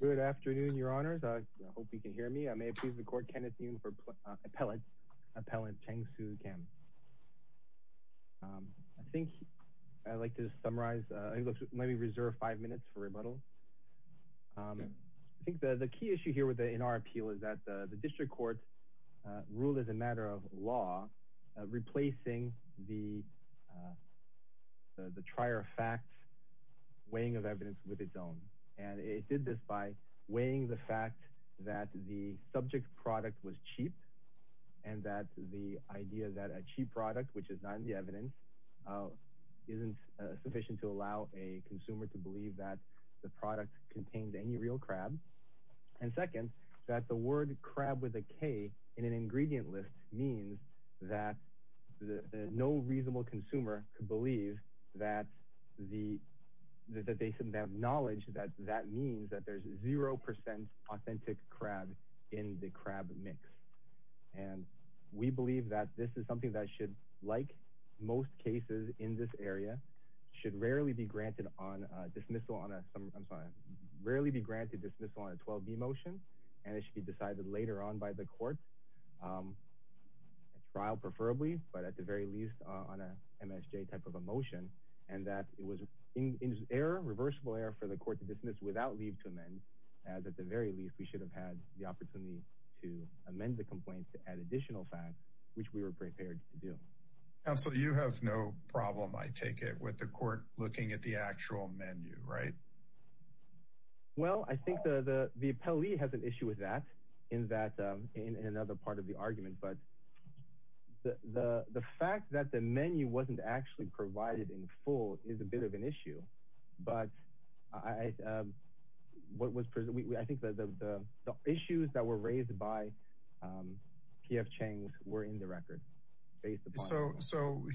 Good afternoon, your honors. I hope you can hear me. I may please record Kenneth Yoon for appellate, Appellant Chansue Kang. I think I'd like to summarize, maybe reserve five minutes for rebuttal. I think the key issue here with the N.R. appeal is that the district court ruled as a matter of law replacing the trier fact weighing of evidence with its own. And it did this by weighing the fact that the subject product was cheap and that the idea that a cheap product, which is not in the evidence, isn't sufficient to allow a consumer to believe that the product contained any real crab. And second, that the word crab with a K in an ingredient means that no reasonable consumer could believe that they should have knowledge that that means that there's zero percent authentic crab in the crab mix. And we believe that this is something that should, like most cases in this area, should rarely be granted on a dismissal on a 12b motion and it should be decided later on by the court, a trial preferably, but at the very least on a MSJ type of a motion. And that it was in error, reversible error for the court to dismiss without leave to amend, as at the very least we should have had the opportunity to amend the complaint to add additional facts, which we were prepared to do. Counsel, you have no problem, I take it, the court looking at the actual menu, right? Well, I think the appellee has an issue with that in that in another part of the argument, but the fact that the menu wasn't actually provided in full is a bit of an issue. But I think that the issues that were raised by P.F. Chang were in the record. So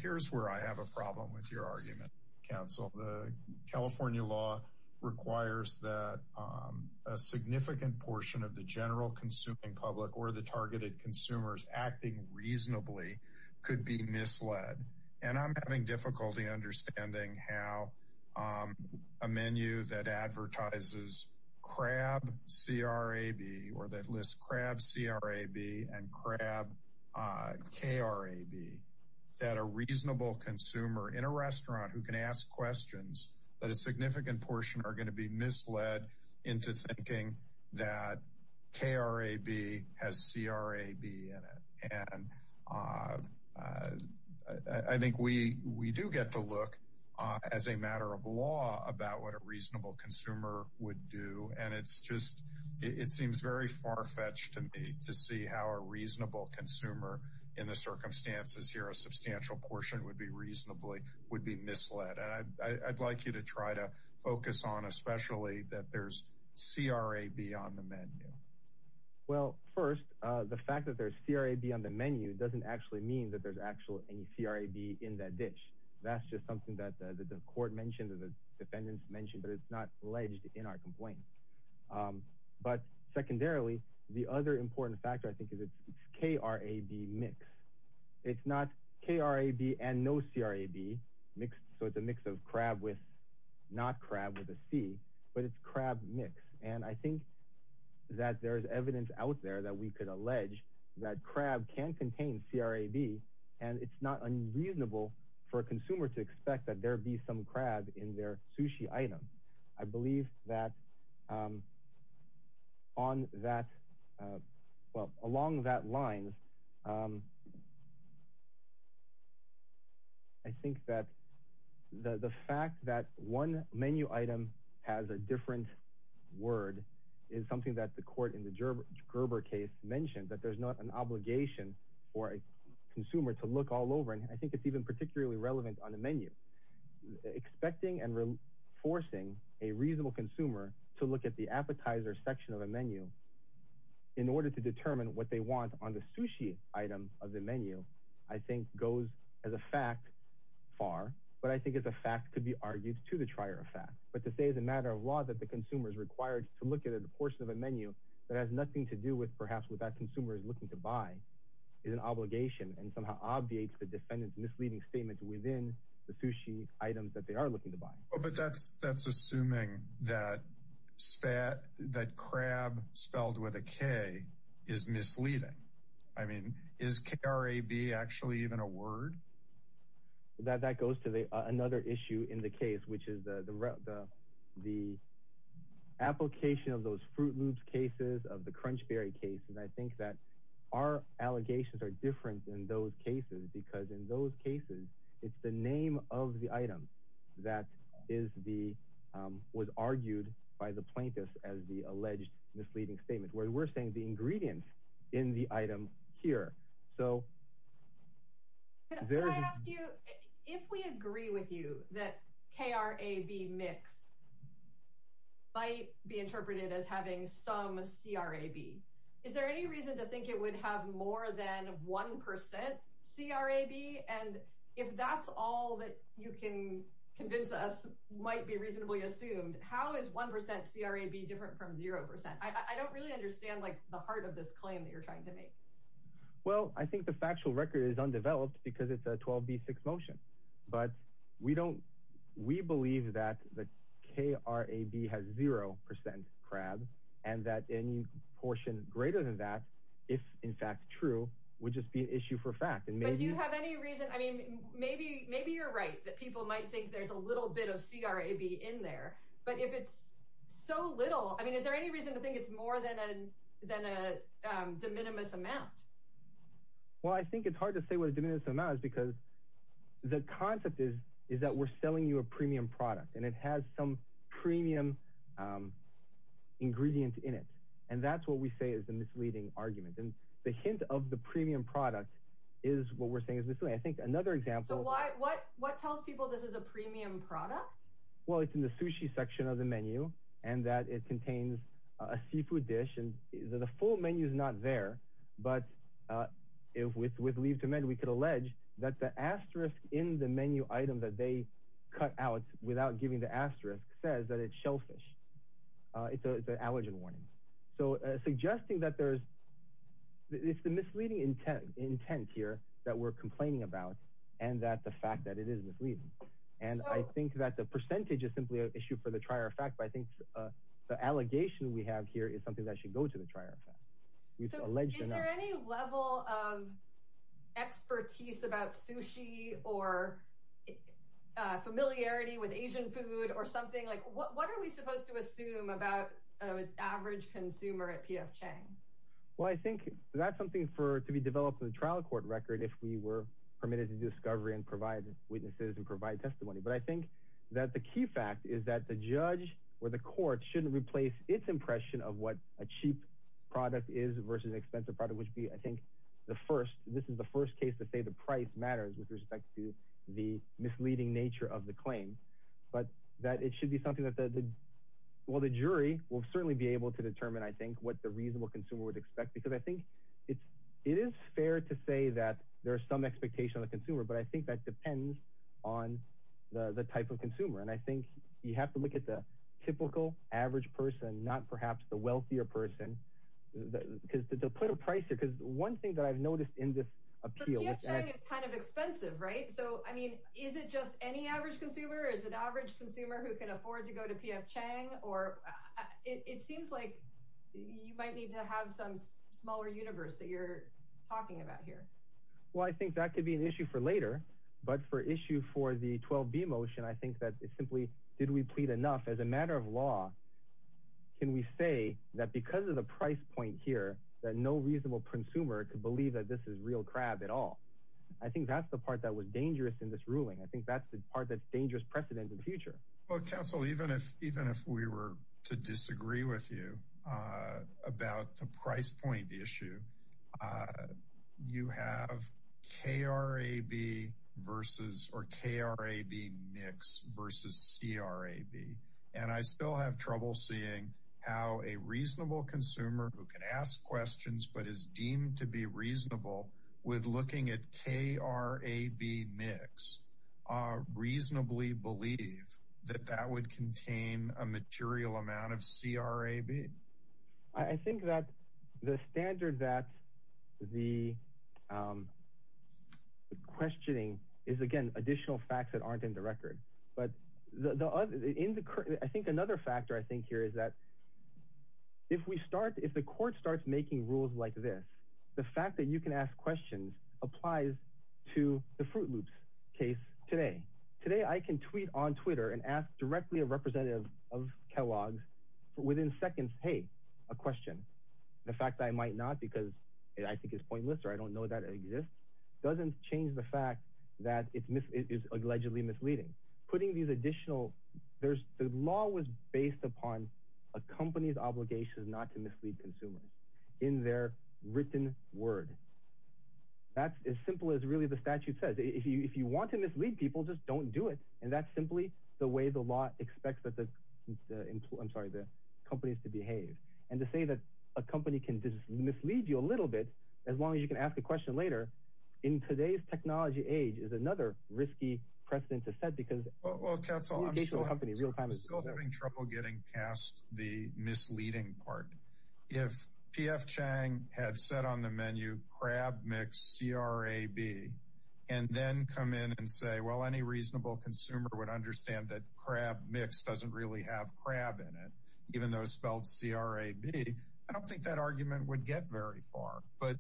here's where I have a problem with your argument, counsel. The California law requires that a significant portion of the general consuming public or the targeted consumers acting reasonably could be misled. And I'm having difficulty understanding how a menu that advertises Crab C.R.A.B. or that lists Crab C.R.A.B. and Crab K.R.A.B. that a reasonable consumer in a restaurant who can ask questions, that a significant portion are going to be misled into thinking that K.R.A.B. has C.R.A.B. in it. And I think we do get to look as a matter of law about what a reasonable consumer would do. And it's just it seems very farfetched to me to see how a reasonable consumer in the circumstances here, a substantial portion would be reasonably would be misled. And I'd like you to try to focus on especially that there's C.R.A.B. on the menu. Well, first, the fact that there's C.R.A.B. on the menu doesn't actually mean that there's actually any C.R.A.B. in that dish. That's just something that the court mentioned or the defendants mentioned, but it's not alleged in our complaint. But secondarily, the other important factor, I think, is it's K.R.A.B. mix. It's not K.R.A.B. and no C.R.A.B. mixed. So it's a mix of crab with not crab with a C, but it's crab mix. And I think that there's evidence out there that we could allege that crab can contain C.R.A.B. and it's not unreasonable for a consumer to expect that there be some crab in their sushi item. I believe that on that, well, along that line, I think that the fact that one menu item has a different word is something that the court in the Gerber case mentioned, that there's not an obligation for a consumer to look all over. And I think it's even particularly relevant on a menu. Expecting and forcing a reasonable consumer to look at the appetizer section of a menu in order to determine what they want on the sushi item of the menu, I think, goes as a fact far, but I think it's a fact to be argued to the trier of fact. But to say as a matter of fact that the consumer is required to look at a portion of a menu that has nothing to do with perhaps what that consumer is looking to buy is an obligation and somehow obviates the defendant's misleading statements within the sushi items that they are looking to buy. But that's assuming that crab spelled with a K is misleading. I mean, is C.R.A.B. actually even a word? That goes to another issue in the case, which is the application of those Fruit Loops cases, of the Crunch Berry case. And I think that our allegations are different in those cases, because in those cases, it's the name of the item that was argued by the plaintiffs as the alleged misleading statement, where we're saying the ingredients in the item here. So can I ask you, if we agree with you that K.R.A.B. mix might be interpreted as having some C.R.A.B., is there any reason to think it would have more than one percent C.R.A.B.? And if that's all that you can convince us might be reasonably assumed, how is one percent C.R.A.B. different from zero percent? I don't really understand, like, the heart of this claim that you're trying to make. Well, I think the factual record is undeveloped, because it's a 12b6 motion. But we believe that the K.R.A.B. has zero percent C.R.A.B., and that any portion greater than that, if in fact true, would just be an issue for fact. But do you have any reason, I mean, maybe you're right, that people might think there's a little bit of C.R.A.B. in there. But if it's so little, I mean, is there any reason to think it's more than a de minimis amount? Well, I think it's hard to say what a de minimis amount is, because the concept is that we're selling you a premium product, and it has some premium ingredient in it. And that's what we say is the misleading argument. And the hint of the premium product is what we're saying is misleading. I think another example... So what tells people this is a premium product? Well, it's in the sushi section of the menu, and that it contains a seafood dish. And the full menu is not there. But with Leave to Mend, we could allege that the asterisk in the menu item that they cut out without giving the asterisk says that it's shellfish. It's an allergen warning. So suggesting that there's... It's the misleading intent here that we're complaining about, and that the fact that it is misleading. And I think that the we have here is something that should go to the trial. So is there any level of expertise about sushi or familiarity with Asian food or something? What are we supposed to assume about an average consumer at P.F. Chang? Well, I think that's something to be developed in the trial court record if we were permitted to do discovery and provide witnesses and provide testimony. But I think that the key fact is that the judge or the court shouldn't replace its impression of what a cheap product is versus an expensive product, which would be, I think, the first. This is the first case to say the price matters with respect to the misleading nature of the claim. But that it should be something that the... Well, the jury will certainly be able to determine, I think, what the reasonable consumer would expect. Because I think it is fair to say that there I think you have to look at the typical average person, not perhaps the wealthier person, because to put a price here... Because one thing that I've noticed in this appeal... But P.F. Chang is kind of expensive, right? So, I mean, is it just any average consumer? Is it an average consumer who can afford to go to P.F. Chang? Or it seems like you might need to have some smaller universe that you're talking about here. Well, I think that could be an issue for later. But for issue for the 12b motion, simply, did we plead enough? As a matter of law, can we say that because of the price point here, that no reasonable consumer could believe that this is real crab at all? I think that's the part that was dangerous in this ruling. I think that's the part that's dangerous precedent in the future. Well, counsel, even if we were to disagree with you about the price point issue, you have K.R.A.B. versus... Or K.R.A.B. mix versus C.R.A.B. And I still have trouble seeing how a reasonable consumer who can ask questions but is deemed to be reasonable with looking at K.R.A.B. mix reasonably believe that that would contain a material amount of C.R.A.B. I think that the standard that the questioning is, again, additional facts that aren't in the record. But I think another factor I think here is that if the court starts making rules like this, the fact that you can ask questions applies to the Froot Loops case today. Today, I can tweet on Twitter and ask directly a representative of Kellogg's within seconds, hey, a question. The fact that I might not because I think it's pointless or I don't know that it exists doesn't change the fact that it is allegedly misleading. Putting these additional... The law was based upon a company's obligation not to mislead consumers in their written word. That's as simple as really the statute says. If you want to mislead people, just don't do it. And that's simply the way the law expects the companies to behave. And to say that a company can just mislead you a little bit as long as you can ask a question later in today's technology age is another risky precedent to set because... Well, counsel, I'm still having trouble getting past the misleading part. If P.F. Chang had said crab mix CRAB and then come in and say, well, any reasonable consumer would understand that crab mix doesn't really have crab in it, even though it's spelled C-R-A-B, I don't think that argument would get very far. But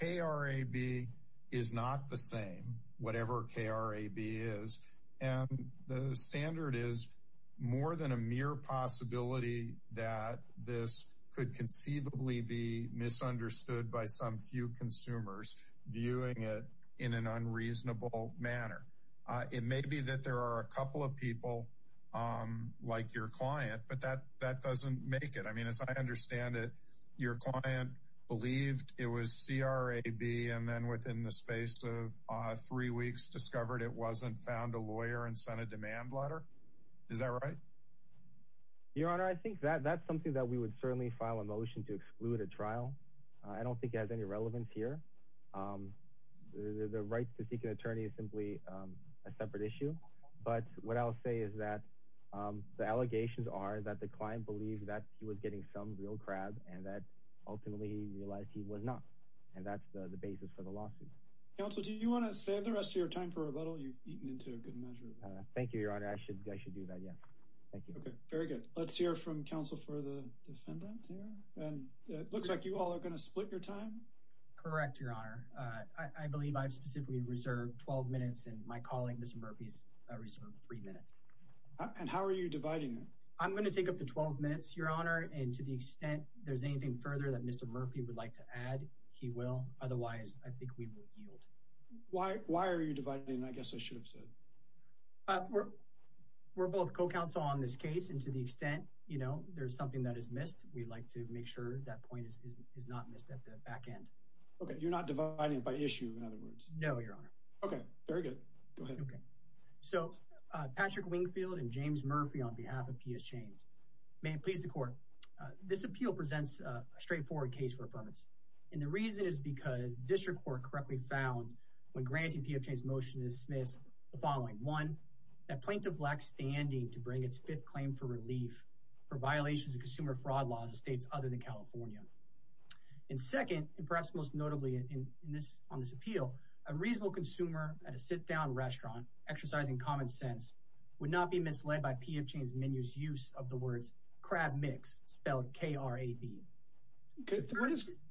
K-R-A-B is not the same, whatever K-R-A-B is. And the standard is more than a mere possibility that this could conceivably be misunderstood by some few consumers viewing it in an unreasonable manner. It may be that there are a couple of people like your client, but that doesn't make it. I mean, as I understand it, your client believed it was C-R-A-B and then within the space of three weeks discovered it wasn't, found a lawyer and a demand letter. Is that right? Your Honor, I think that that's something that we would certainly file a motion to exclude a trial. I don't think it has any relevance here. The right to seek an attorney is simply a separate issue. But what I'll say is that the allegations are that the client believes that he was getting some real crab and that ultimately realized he was not. And that's the basis for the lawsuit. Counsel, do you want to save the rest of your time for rebuttal? You've eaten into a good measure. Thank you, Your Honor. I should, I should do that. Yeah. Thank you. Okay, very good. Let's hear from counsel for the defendant here. And it looks like you all are going to split your time. Correct, Your Honor. I believe I've specifically reserved 12 minutes and my colleague, Mr. Murphy's reserved three minutes. And how are you dividing it? I'm going to take up the 12 minutes, Your Honor. And to the extent there's anything further that Mr. Murphy would like to add, he will. Otherwise, I think we will yield. Why are you dividing? I guess I should have said. We're both co-counsel on this case. And to the extent, you know, there's something that is missed, we'd like to make sure that point is not missed at the back end. Okay. You're not dividing it by issue, in other words. No, Your Honor. Okay, very good. Go ahead. Okay. So, Patrick Wingfield and James Murphy on behalf of P.S. Chains. May it please the court. This appeal presents a straightforward case for affirmance. And the reason is because the district court correctly found when granting P.S. Chains motion to dismiss the following. One, that plaintiff lacks standing to bring its fifth claim for relief for violations of consumer fraud laws of states other than California. And second, and perhaps most notably on this appeal, a reasonable consumer at a sit-down restaurant exercising common sense would not be misled by P.S. Chains menu's use of the words spelled K-R-A-B. Okay.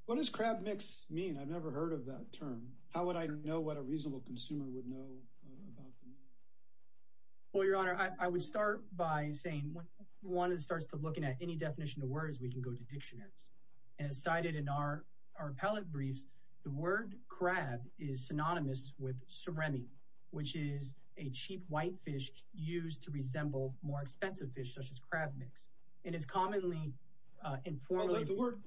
What does crab mix mean? I've never heard of that term. How would I know what a reasonable consumer would know about them? Well, Your Honor, I would start by saying, one that starts to looking at any definition of words, we can go to dictionaries. And as cited in our appellate briefs, the word crab is synonymous with serenity, which is a cheap white fish used to resemble more expensive fish such as crab mix. And it's commonly informally... The word,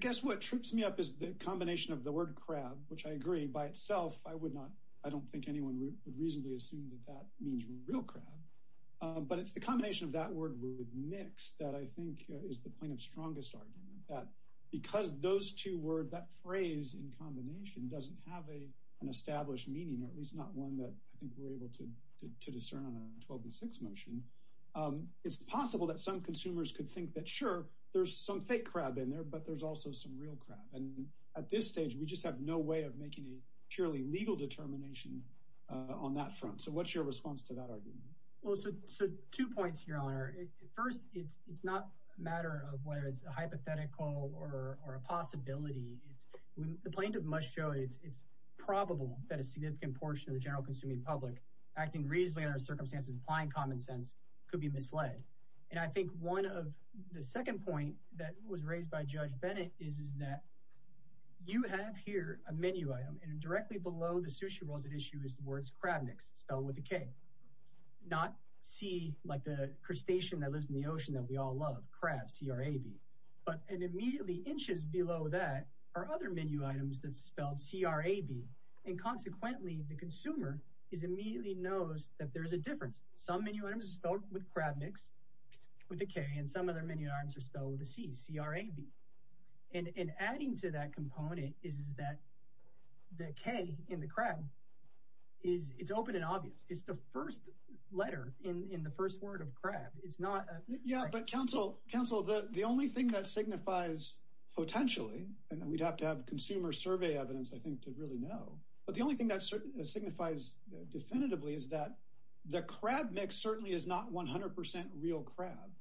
guess what trips me up is the combination of the word crab, which I agree by itself, I would not, I don't think anyone would reasonably assume that that means real crab. But it's the combination of that word with mix that I think is the plaintiff's strongest argument that because those two words, that phrase in combination doesn't have an established meaning, or at least not one that I think we're able to discern on a 12 and 6 motion. It's possible that some consumers could think that, sure, there's some fake crab in there, but there's also some real crab. And at this stage, we just have no way of making a purely legal determination on that front. So what's your response to that argument? Well, so two points, Your Honor. First, it's not a matter of whether it's a hypothetical or a possibility. The plaintiff must show it's probable that a significant portion of the general public, acting reasonably under circumstances, applying common sense could be misled. And I think one of the second point that was raised by Judge Bennett is that you have here a menu item, and directly below the sushi rolls at issue is the words crab mix spelled with a K. Not C, like the crustacean that lives in the ocean that we all love, crab, C-R-A-B. But immediately inches below that are other menu items that's spelled C-R-A-B. And consequently, the consumer immediately knows that there's a difference. Some menu items are spelled with crab mix with a K, and some other menu items are spelled with a C, C-R-A-B. And adding to that component is that the K in the crab, it's open and obvious. It's the first letter in the first word of crab. It's not a- Yeah, but counsel, the only thing that signifies potentially, and we'd have to have consumer survey evidence, I think, to really know. But the only thing that signifies definitively is that the crab mix certainly is not 100% real crab.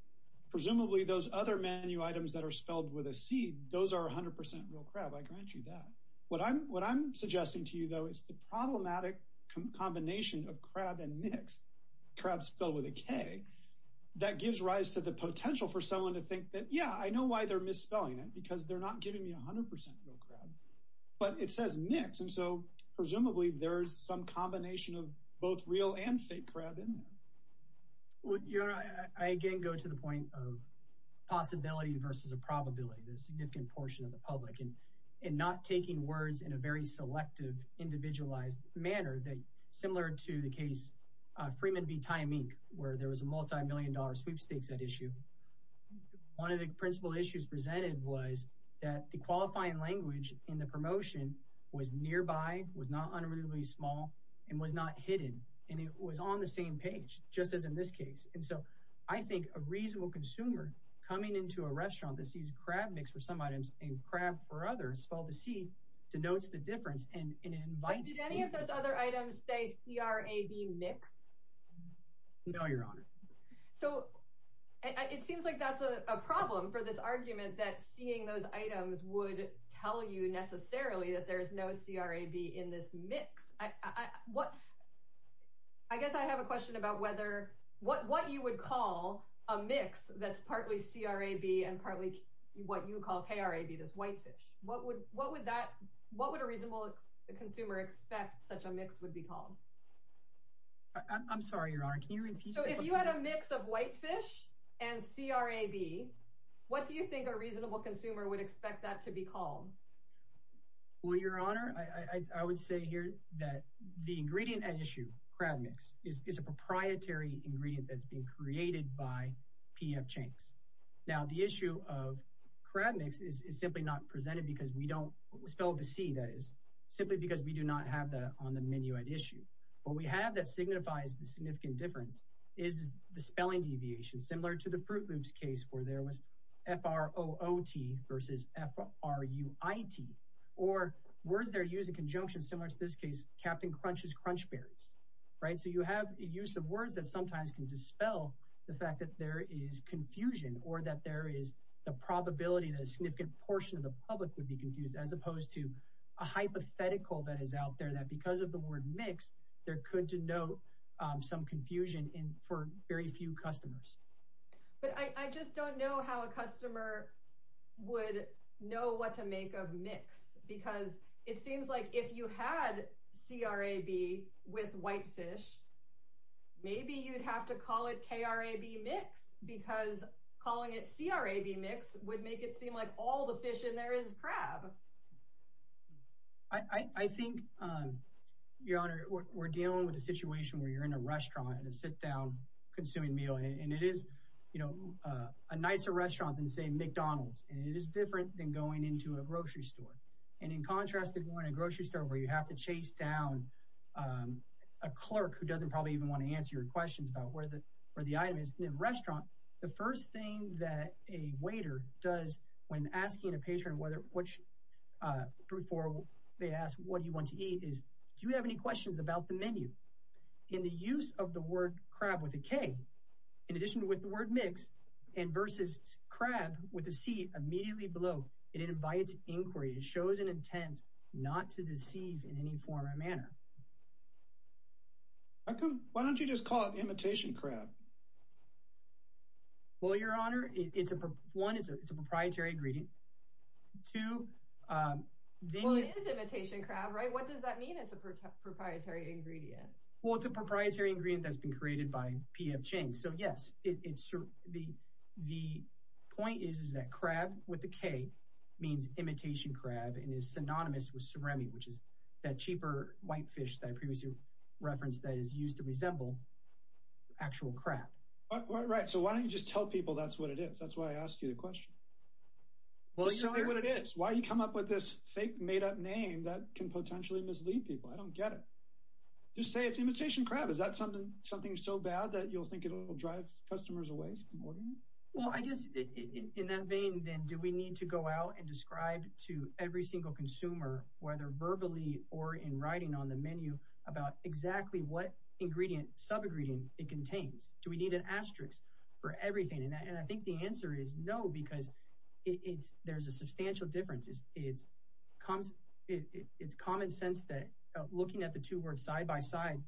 Presumably those other menu items that are spelled with a C, those are 100% real crab. I grant you that. What I'm suggesting to you, though, is the problematic combination of crab and mix, crab spelled with a K, that gives rise to the potential for someone to think that, yeah, I know why they're misspelling it, because they're not giving me 100% real crab, but it says mix. And so, presumably, there's some combination of both real and fake crab in there. Well, you know, I again go to the point of possibility versus a probability, the significant portion of the public. And not taking words in a very selective, individualized manner that, similar to the case, Freeman v. Tymeek, where there was a principal issue presented was that the qualifying language in the promotion was nearby, was not unreadably small, and was not hidden. And it was on the same page, just as in this case. And so, I think a reasonable consumer coming into a restaurant that sees crab mix for some items and crab for others spelled with a C denotes the difference. And it invites me to- Did any of those other items say C-R-A-B mix? No, Your Honor. So, it seems like that's a problem for this argument that seeing those items would tell you necessarily that there's no C-R-A-B in this mix. I guess I have a question about whether, what you would call a mix that's partly C-R-A-B and partly what you call K-R-A-B, this white fish. What would a reasonable consumer expect such a mix would be called? I'm sorry, Your Honor, can you repeat- So, if you had a mix of white fish and C-R-A-B, what do you think a reasonable consumer would expect that to be called? Well, Your Honor, I would say here that the ingredient at issue, crab mix, is a proprietary ingredient that's been created by P.F. Chinks. Now, the issue of crab mix is simply not presented because we don't, spelled with a C, that is, simply because we do not have that on the menu at issue. What we have that signifies the significant difference is the spelling deviation, similar to the Froot Loops case where there was F-R-O-O-T versus F-R-U-I-T, or words that are used in conjunction, similar to this case, Captain Crunch's Crunch Berries, right? So, you have a use of words that sometimes can dispel the fact that there is confusion or that there is the probability that a significant portion of the public would be confused as opposed to a hypothetical that is out there that, because of the word mix, there could denote some confusion for very few customers. But I just don't know how a customer would know what to make of mix because it seems like if you had C-R-A-B with white fish, maybe you'd have to call it K-R-A-B mix because calling it C-R-A-B mix would make it seem like all the fish in there is crab. I think, Your Honor, we're dealing with a situation where you're in a restaurant and sit down, consuming a meal, and it is, you know, a nicer restaurant than, say, McDonald's, and it is different than going into a grocery store. And in contrast to going to a grocery store where you have to chase down a clerk who doesn't probably even want to answer your questions about where the item is in a restaurant, the first thing that a waiter does when asking a they ask what you want to eat is, do you have any questions about the menu? In the use of the word crab with a K, in addition to with the word mix, and versus crab with a C immediately below, it invites inquiry. It shows an intent not to deceive in any form or manner. Why don't you just call it imitation crab? Well, Your Honor, one, it's a proprietary ingredient. Two, Well, it is imitation crab, right? What does that mean, it's a proprietary ingredient? Well, it's a proprietary ingredient that's been created by P.F. Chang. So, yes, the point is that crab with a K means imitation crab and is synonymous with surimi, which is that cheaper white fish that I previously referenced that is used to resemble actual crab. Right, so why don't you just tell people that's what it is? That's why I asked you the question. Just tell me what it is. Why do you come up with this fake made-up name that can potentially mislead people? I don't get it. Just say it's imitation crab. Is that something so bad that you'll think it'll drive customers away from ordering it? Well, I guess in that vein, then, do we need to go out and describe to every single consumer, whether verbally or in writing on the menu, about exactly what ingredient, sub-ingredient it contains? Do we need an asterisk for everything? And I think the answer is no, because there's a substantial difference. It's common sense that looking at the two words side by side,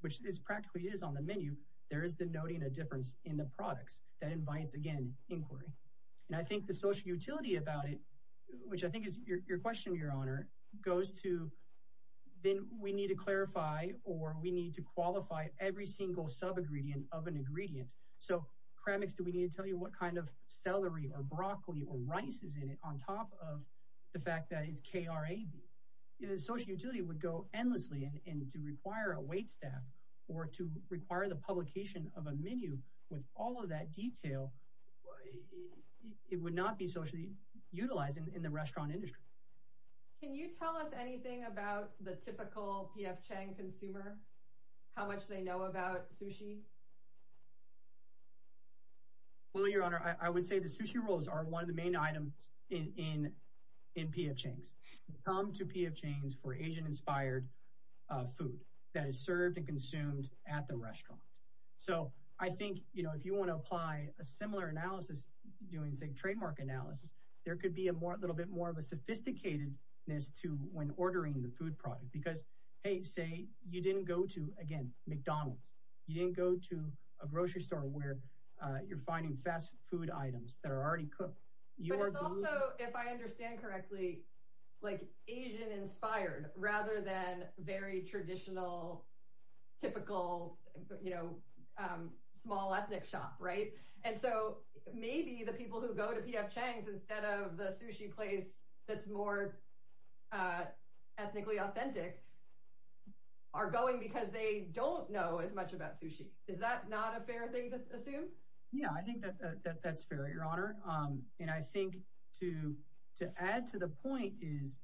which this practically is on the menu, there is denoting a difference in the products that invites, again, inquiry. And I think the social utility about it, which I think is your question, Your Honor, goes to then we need to clarify or we need to qualify every single sub-ingredient of an ingredient. So crab mix, do we need to tell you what kind of celery or broccoli or rice is in it on top of the fact that it's KRAB? The social utility would go endlessly, and to require a waitstaff or to require the social utility in the restaurant industry. Can you tell us anything about the typical P.F. Chang consumer? How much they know about sushi? Well, Your Honor, I would say the sushi rolls are one of the main items in P.F. Chang's. Come to P.F. Chang's for Asian-inspired food that is served and consumed at the restaurant. So I think, you know, if you want to apply a similar analysis doing, say, trademark analysis, there could be a little bit more of a sophisticated-ness to when ordering the food product because, hey, say you didn't go to, again, McDonald's. You didn't go to a grocery store where you're finding fast food items that are already cooked. But it's also, if I understand correctly, like Asian-inspired rather than very traditional, typical, you know, small ethnic shop, right? And so maybe the people who go to P.F. Chang's instead of the sushi place that's more ethnically authentic are going because they don't know as much about sushi. Is that not a fair thing to assume? Yeah, I think that that's fair, Your Honor. And I think to add to the point is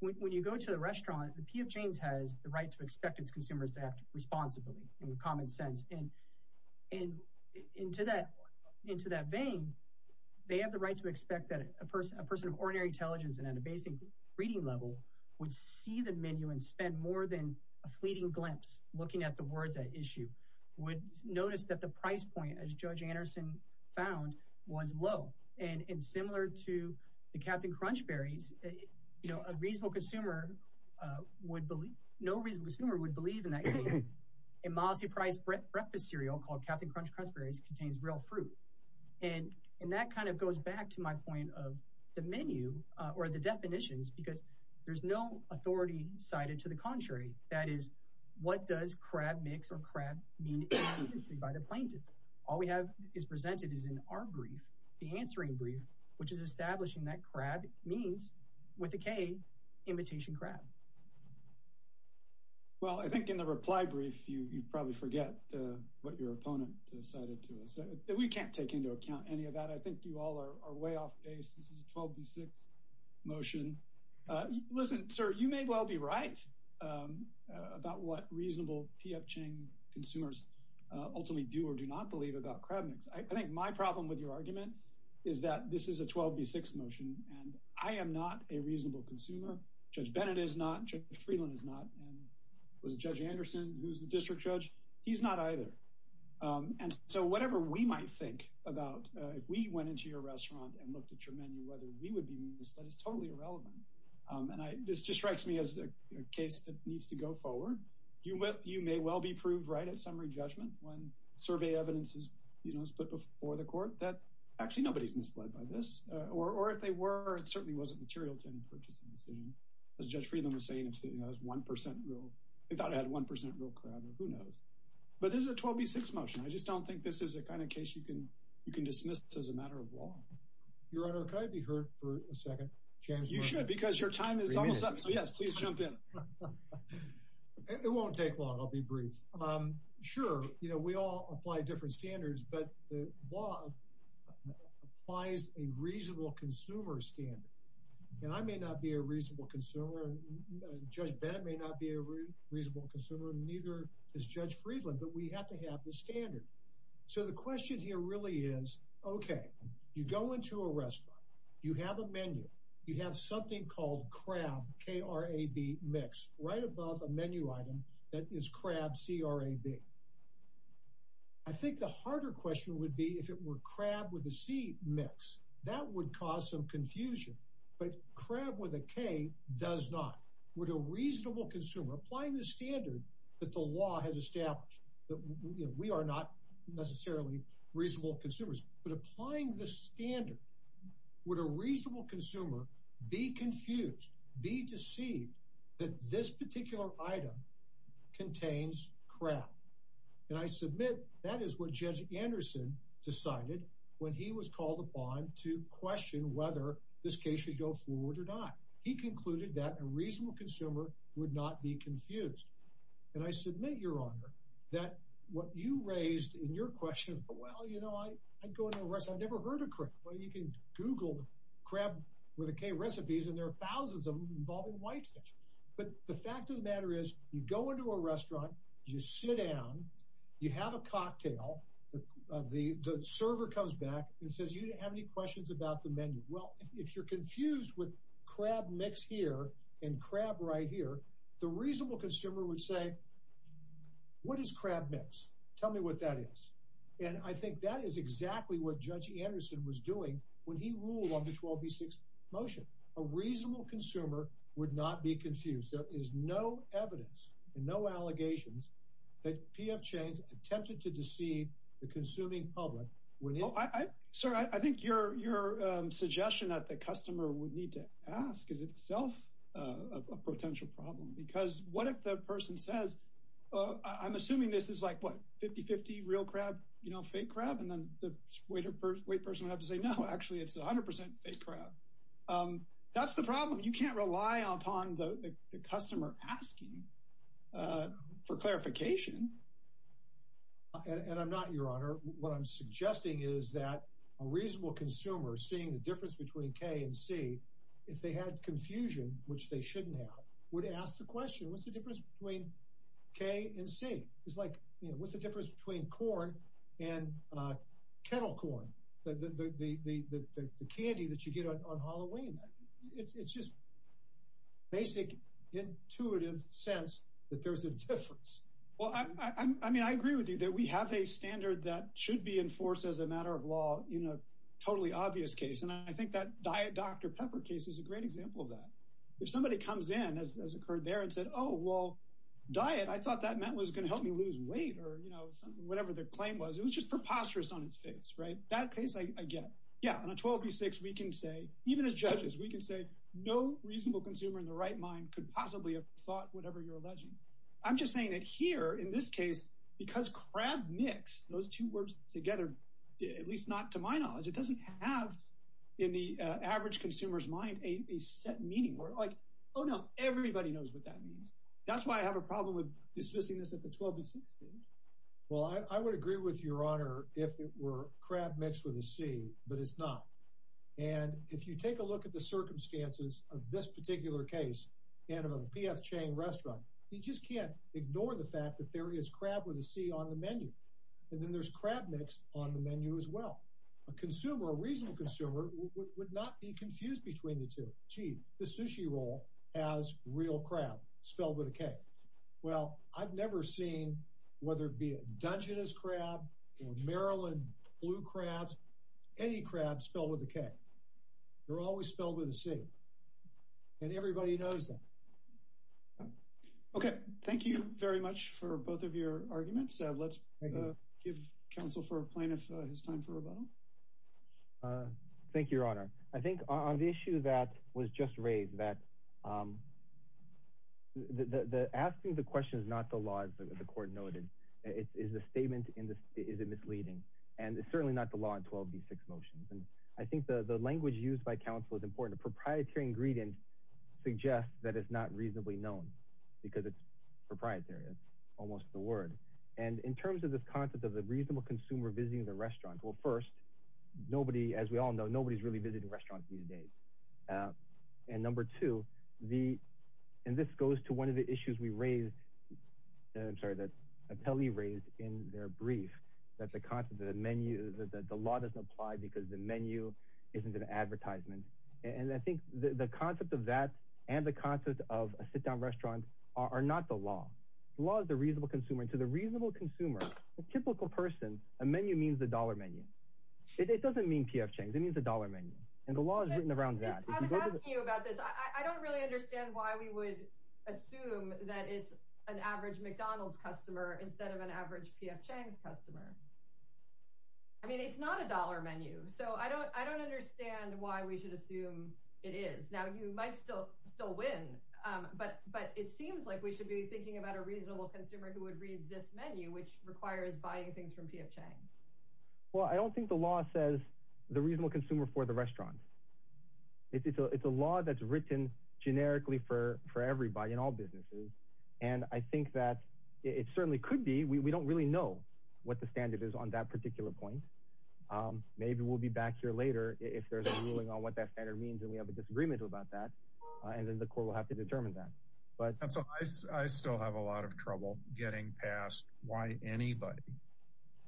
when you go to a restaurant, the P.F. Chang's has the right to expect its consumers to act responsibly in common sense. And into that vein, they have the right to expect that a person of ordinary intelligence and at a basic reading level would see the menu and spend more than a fleeting glimpse looking at the words at issue, would notice that the price point, as Judge Anderson found, was low. And similar to the Captain Crunchberries, you know, a reasonable consumer would believe, no reasonable consumer would believe in that a Mosse-priced breakfast cereal called Captain Crunchberries contains real fruit. And that kind of goes back to my point of the menu or the definitions because there's no authority cited to the contrary. That is, what does crab mix or crab mean by the plaintiff? All we have is presented is in our brief, the answering brief, which is establishing that crab means with a K, imitation crab. Well, I think in the reply brief, you'd probably forget what your opponent cited to us. We can't take into account any of that. I think you all are way off base. This is a 12 v. 6 motion. Listen, sir, you may well be right about what reasonable P.F. Chang consumers ultimately do or do not believe about crab mix. I think my problem with your motion, and I am not a reasonable consumer. Judge Bennett is not. Judge Friedland is not. And was Judge Anderson, who's the district judge? He's not either. And so whatever we might think about if we went into your restaurant and looked at your menu, whether we would be misled is totally irrelevant. And this just strikes me as a case that needs to go forward. You may well be proved right at summary judgment when survey evidence is put before the court that actually nobody's misled by this. Or if they were, it certainly wasn't material to any purchasing decision. As Judge Friedland was saying, it has 1% real. They thought it had 1% real crab or who knows. But this is a 12 v. 6 motion. I just don't think this is the kind of case you can dismiss as a matter of law. Your Honor, could I be heard for a second? You should, because your time is almost up. So yes, please jump in. It won't take long. I'll be brief. Sure. You know, we all apply different standards, but the law applies a reasonable consumer standard. And I may not be a reasonable consumer. Judge Bennett may not be a reasonable consumer, neither is Judge Friedland, but we have to have the standard. So the question here really is, okay, you go into a restaurant, you have a menu, you have something called crab, K-R-A-B mix, right above a menu item that is crab, C-R-A-B. I think the harder question would be if it were crab with a C mix. That would cause some confusion. But crab with a K does not. Would a reasonable consumer, applying the standard that the law has established, that we are not necessarily reasonable consumers, but applying the standard, would a reasonable consumer be confused, be deceived that this particular item contains crab? And I submit that is what Judge Anderson decided when he was called upon to question whether this case should go forward or not. He concluded that a reasonable consumer would not be confused. And I submit, Your Honor, that what you raised in your question, well, you know, I go to a restaurant, I've never heard of thousands of them involving whitefish. But the fact of the matter is, you go into a restaurant, you sit down, you have a cocktail, the server comes back and says, you didn't have any questions about the menu. Well, if you're confused with crab mix here and crab right here, the reasonable consumer would say, what is crab mix? Tell me what that is. And I think that is exactly what would not be confused. There is no evidence and no allegations that PF Chains attempted to deceive the consuming public. Sir, I think your suggestion that the customer would need to ask is itself a potential problem. Because what if the person says, I'm assuming this is like, what, 50-50 real crab, you know, fake crab? And then the wait person would have to say, no, actually, it's 100% fake crab. That's the problem. You can't rely upon the customer asking for clarification. And I'm not, Your Honor, what I'm suggesting is that a reasonable consumer seeing the difference between K and C, if they had confusion, which they shouldn't have, would ask the question, what's the difference between K and C? It's like, you know, what's the difference between corn and kettle corn, the candy that you get on Halloween? It's just basic intuitive sense that there's a difference. Well, I mean, I agree with you that we have a standard that should be enforced as a matter of law in a totally obvious case. And I think that Diet Dr. Pepper case is a great example of that. If somebody comes in, as occurred there, and said, oh, well, diet, I thought that meant was going to help me lose weight or, you know, whatever the claim was. It was just preposterous on its face, right? That case, I get. Yeah, on a 12 v. 6, we can say, even as judges, we can say no reasonable consumer in the right mind could possibly have thought whatever you're alleging. I'm just saying that here, in this case, because crab mix, those two words together, at least not to my knowledge, it doesn't have, in the average consumer's mind, a set meaning. We're like, oh, no, everybody knows what that is. That's why I have a problem with dismissing this at the 12 v. 6 stage. Well, I would agree with your honor if it were crab mixed with a C, but it's not. And if you take a look at the circumstances of this particular case, and of a PF Chang restaurant, you just can't ignore the fact that there is crab with a C on the menu. And then there's crab mixed on the menu as well. A consumer, a reasonable consumer would not be confused between the two. Gee, the sushi roll has real crab spelled with a K. Well, I've never seen, whether it be a Dungeness crab, or Maryland blue crabs, any crab spelled with a K. They're always spelled with a C. And everybody knows that. Okay, thank you very much for both of your arguments. Let's give counsel for a plaintiff his time for rebuttal. Thank you, your honor. I think on the issue that was just raised, that the asking the question is not the law, as the court noted. It's the statement, is it misleading? And it's certainly not the law in 12 v. 6 motions. And I think the language used by counsel is important. A proprietary ingredient suggests that it's not reasonably known, because it's proprietary. It's almost the word. And in terms of this concept of the reasonable consumer visiting the restaurant, well, first, nobody, as we all know, nobody's really visiting restaurants these days. And number two, the, and this goes to one of the issues we raised, I'm sorry, that Ateli raised in their brief, that the concept of the menu, that the law doesn't apply because the menu isn't an advertisement. And I think the concept of that and the concept of a sit-down restaurant are not the law. The law is the reasonable consumer. And to the reasonable consumer, a typical person, a menu means the dollar menu. It doesn't mean P.F. Chang's. It means the dollar menu. And the law is written around that. I was asking you about this. I don't really understand why we would assume that it's an average McDonald's customer instead of an average P.F. Chang's customer. I mean, it's not a dollar menu. So I don't understand why we should assume it is. Now, you might still win, but it seems like we should be thinking about a reasonable consumer who would read this menu, which requires buying things from P.F. Chang. Well, I don't think the law says reasonable consumer for the restaurant. It's a law that's written generically for everybody in all businesses. And I think that it certainly could be. We don't really know what the standard is on that particular point. Maybe we'll be back here later if there's a ruling on what that standard means and we have a disagreement about that. And then the court will have to determine that. But I still have a lot of trouble getting past why anybody,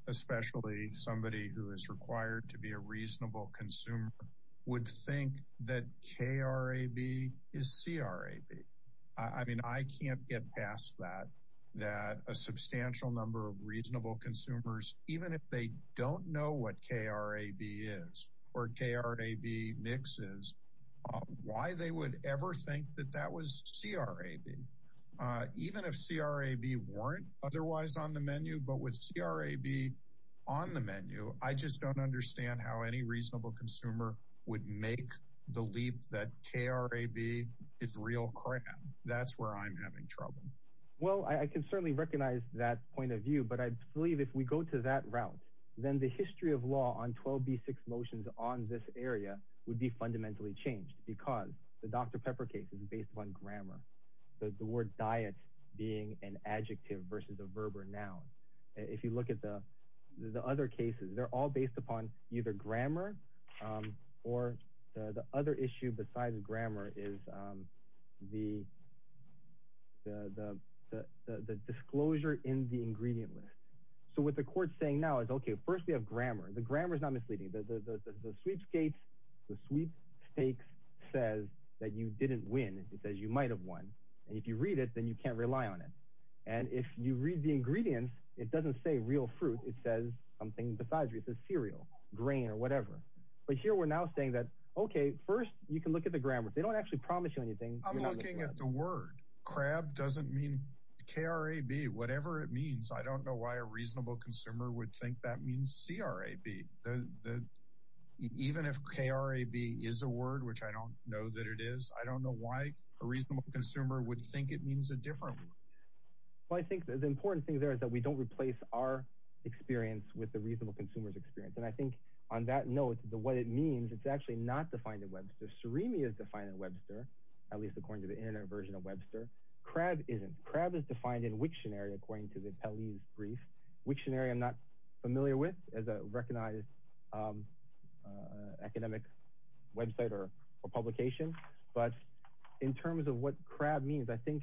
especially somebody who is a reasonable consumer, would think that K.R.A.B. is C.R.A.B. I mean, I can't get past that, that a substantial number of reasonable consumers, even if they don't know what K.R.A.B. is or K.R.A.B. mixes, why they would ever think that that was C.R.A.B. Even if C.R.A.B. weren't otherwise on the menu, but with C.R.A.B. on the menu, I just don't understand how any reasonable consumer would make the leap that K.R.A.B. is real crap. That's where I'm having trouble. Well, I can certainly recognize that point of view, but I believe if we go to that route, then the history of law on 12b6 motions on this area would be fundamentally changed because the if you look at the other cases, they're all based upon either grammar or the other issue besides grammar is the disclosure in the ingredient list. So what the court's saying now is, okay, first we have grammar. The grammar is not misleading. The sweepstakes says that you didn't win. It says you might have won. And if you read it, then you can't rely on it. And if you read the ingredients, it doesn't say real fruit. It says something besides you. It says cereal, grain or whatever. But here we're now saying that, okay, first you can look at the grammar. They don't actually promise you anything. I'm looking at the word crab doesn't mean K.R.A.B. Whatever it means. I don't know why a reasonable consumer would think that means C.R.A.B. Even if K.R.A.B. is a word, which I don't know it is, I don't know why a reasonable consumer would think it means a different word. Well, I think the important thing there is that we don't replace our experience with the reasonable consumer's experience. And I think on that note, the way it means it's actually not defined in Webster. Ceremi is defined in Webster, at least according to the internet version of Webster. K.R.A.B. isn't. K.R.A.B. is defined in Wiktionary according to the Pelley's brief. Wiktionary, I'm not familiar with as a recognized academic website or publication, but in terms of what K.R.A.B. means, I think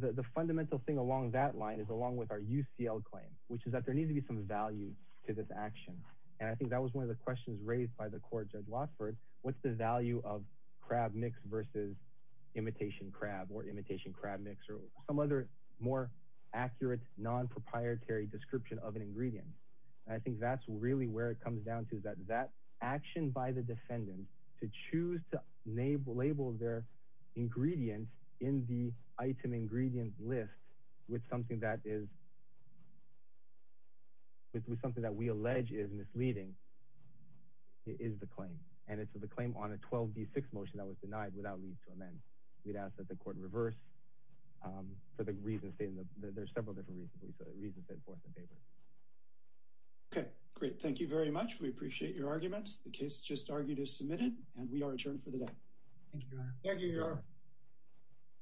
the fundamental thing along that line is along with our UCL claim, which is that there needs to be some value to this action. And I think that was one of the questions raised by the court, Judge Watford, what's the value of K.R.A.B. mix versus imitation K.R.A.B. or imitation K.R.A.B. mix or some other more accurate non-proprietary description of an ingredient. And I think that's really where it comes down to is that that action by the defendant to choose to label their ingredient in the item ingredient list with something that is, with something that we allege is misleading, is the claim. And it's the claim on a 12D6 motion that was denied without leave to amend. We'd ask that the court reverse for the reasons stated in the, there's several different reasons, but we saw the reasons set forth in the paper. Okay, great. Thank you very much. We appreciate your arguments. The case just argued is submitted and we are adjourned for the day. Thank you, Your Honor. Thank you, Your Honor.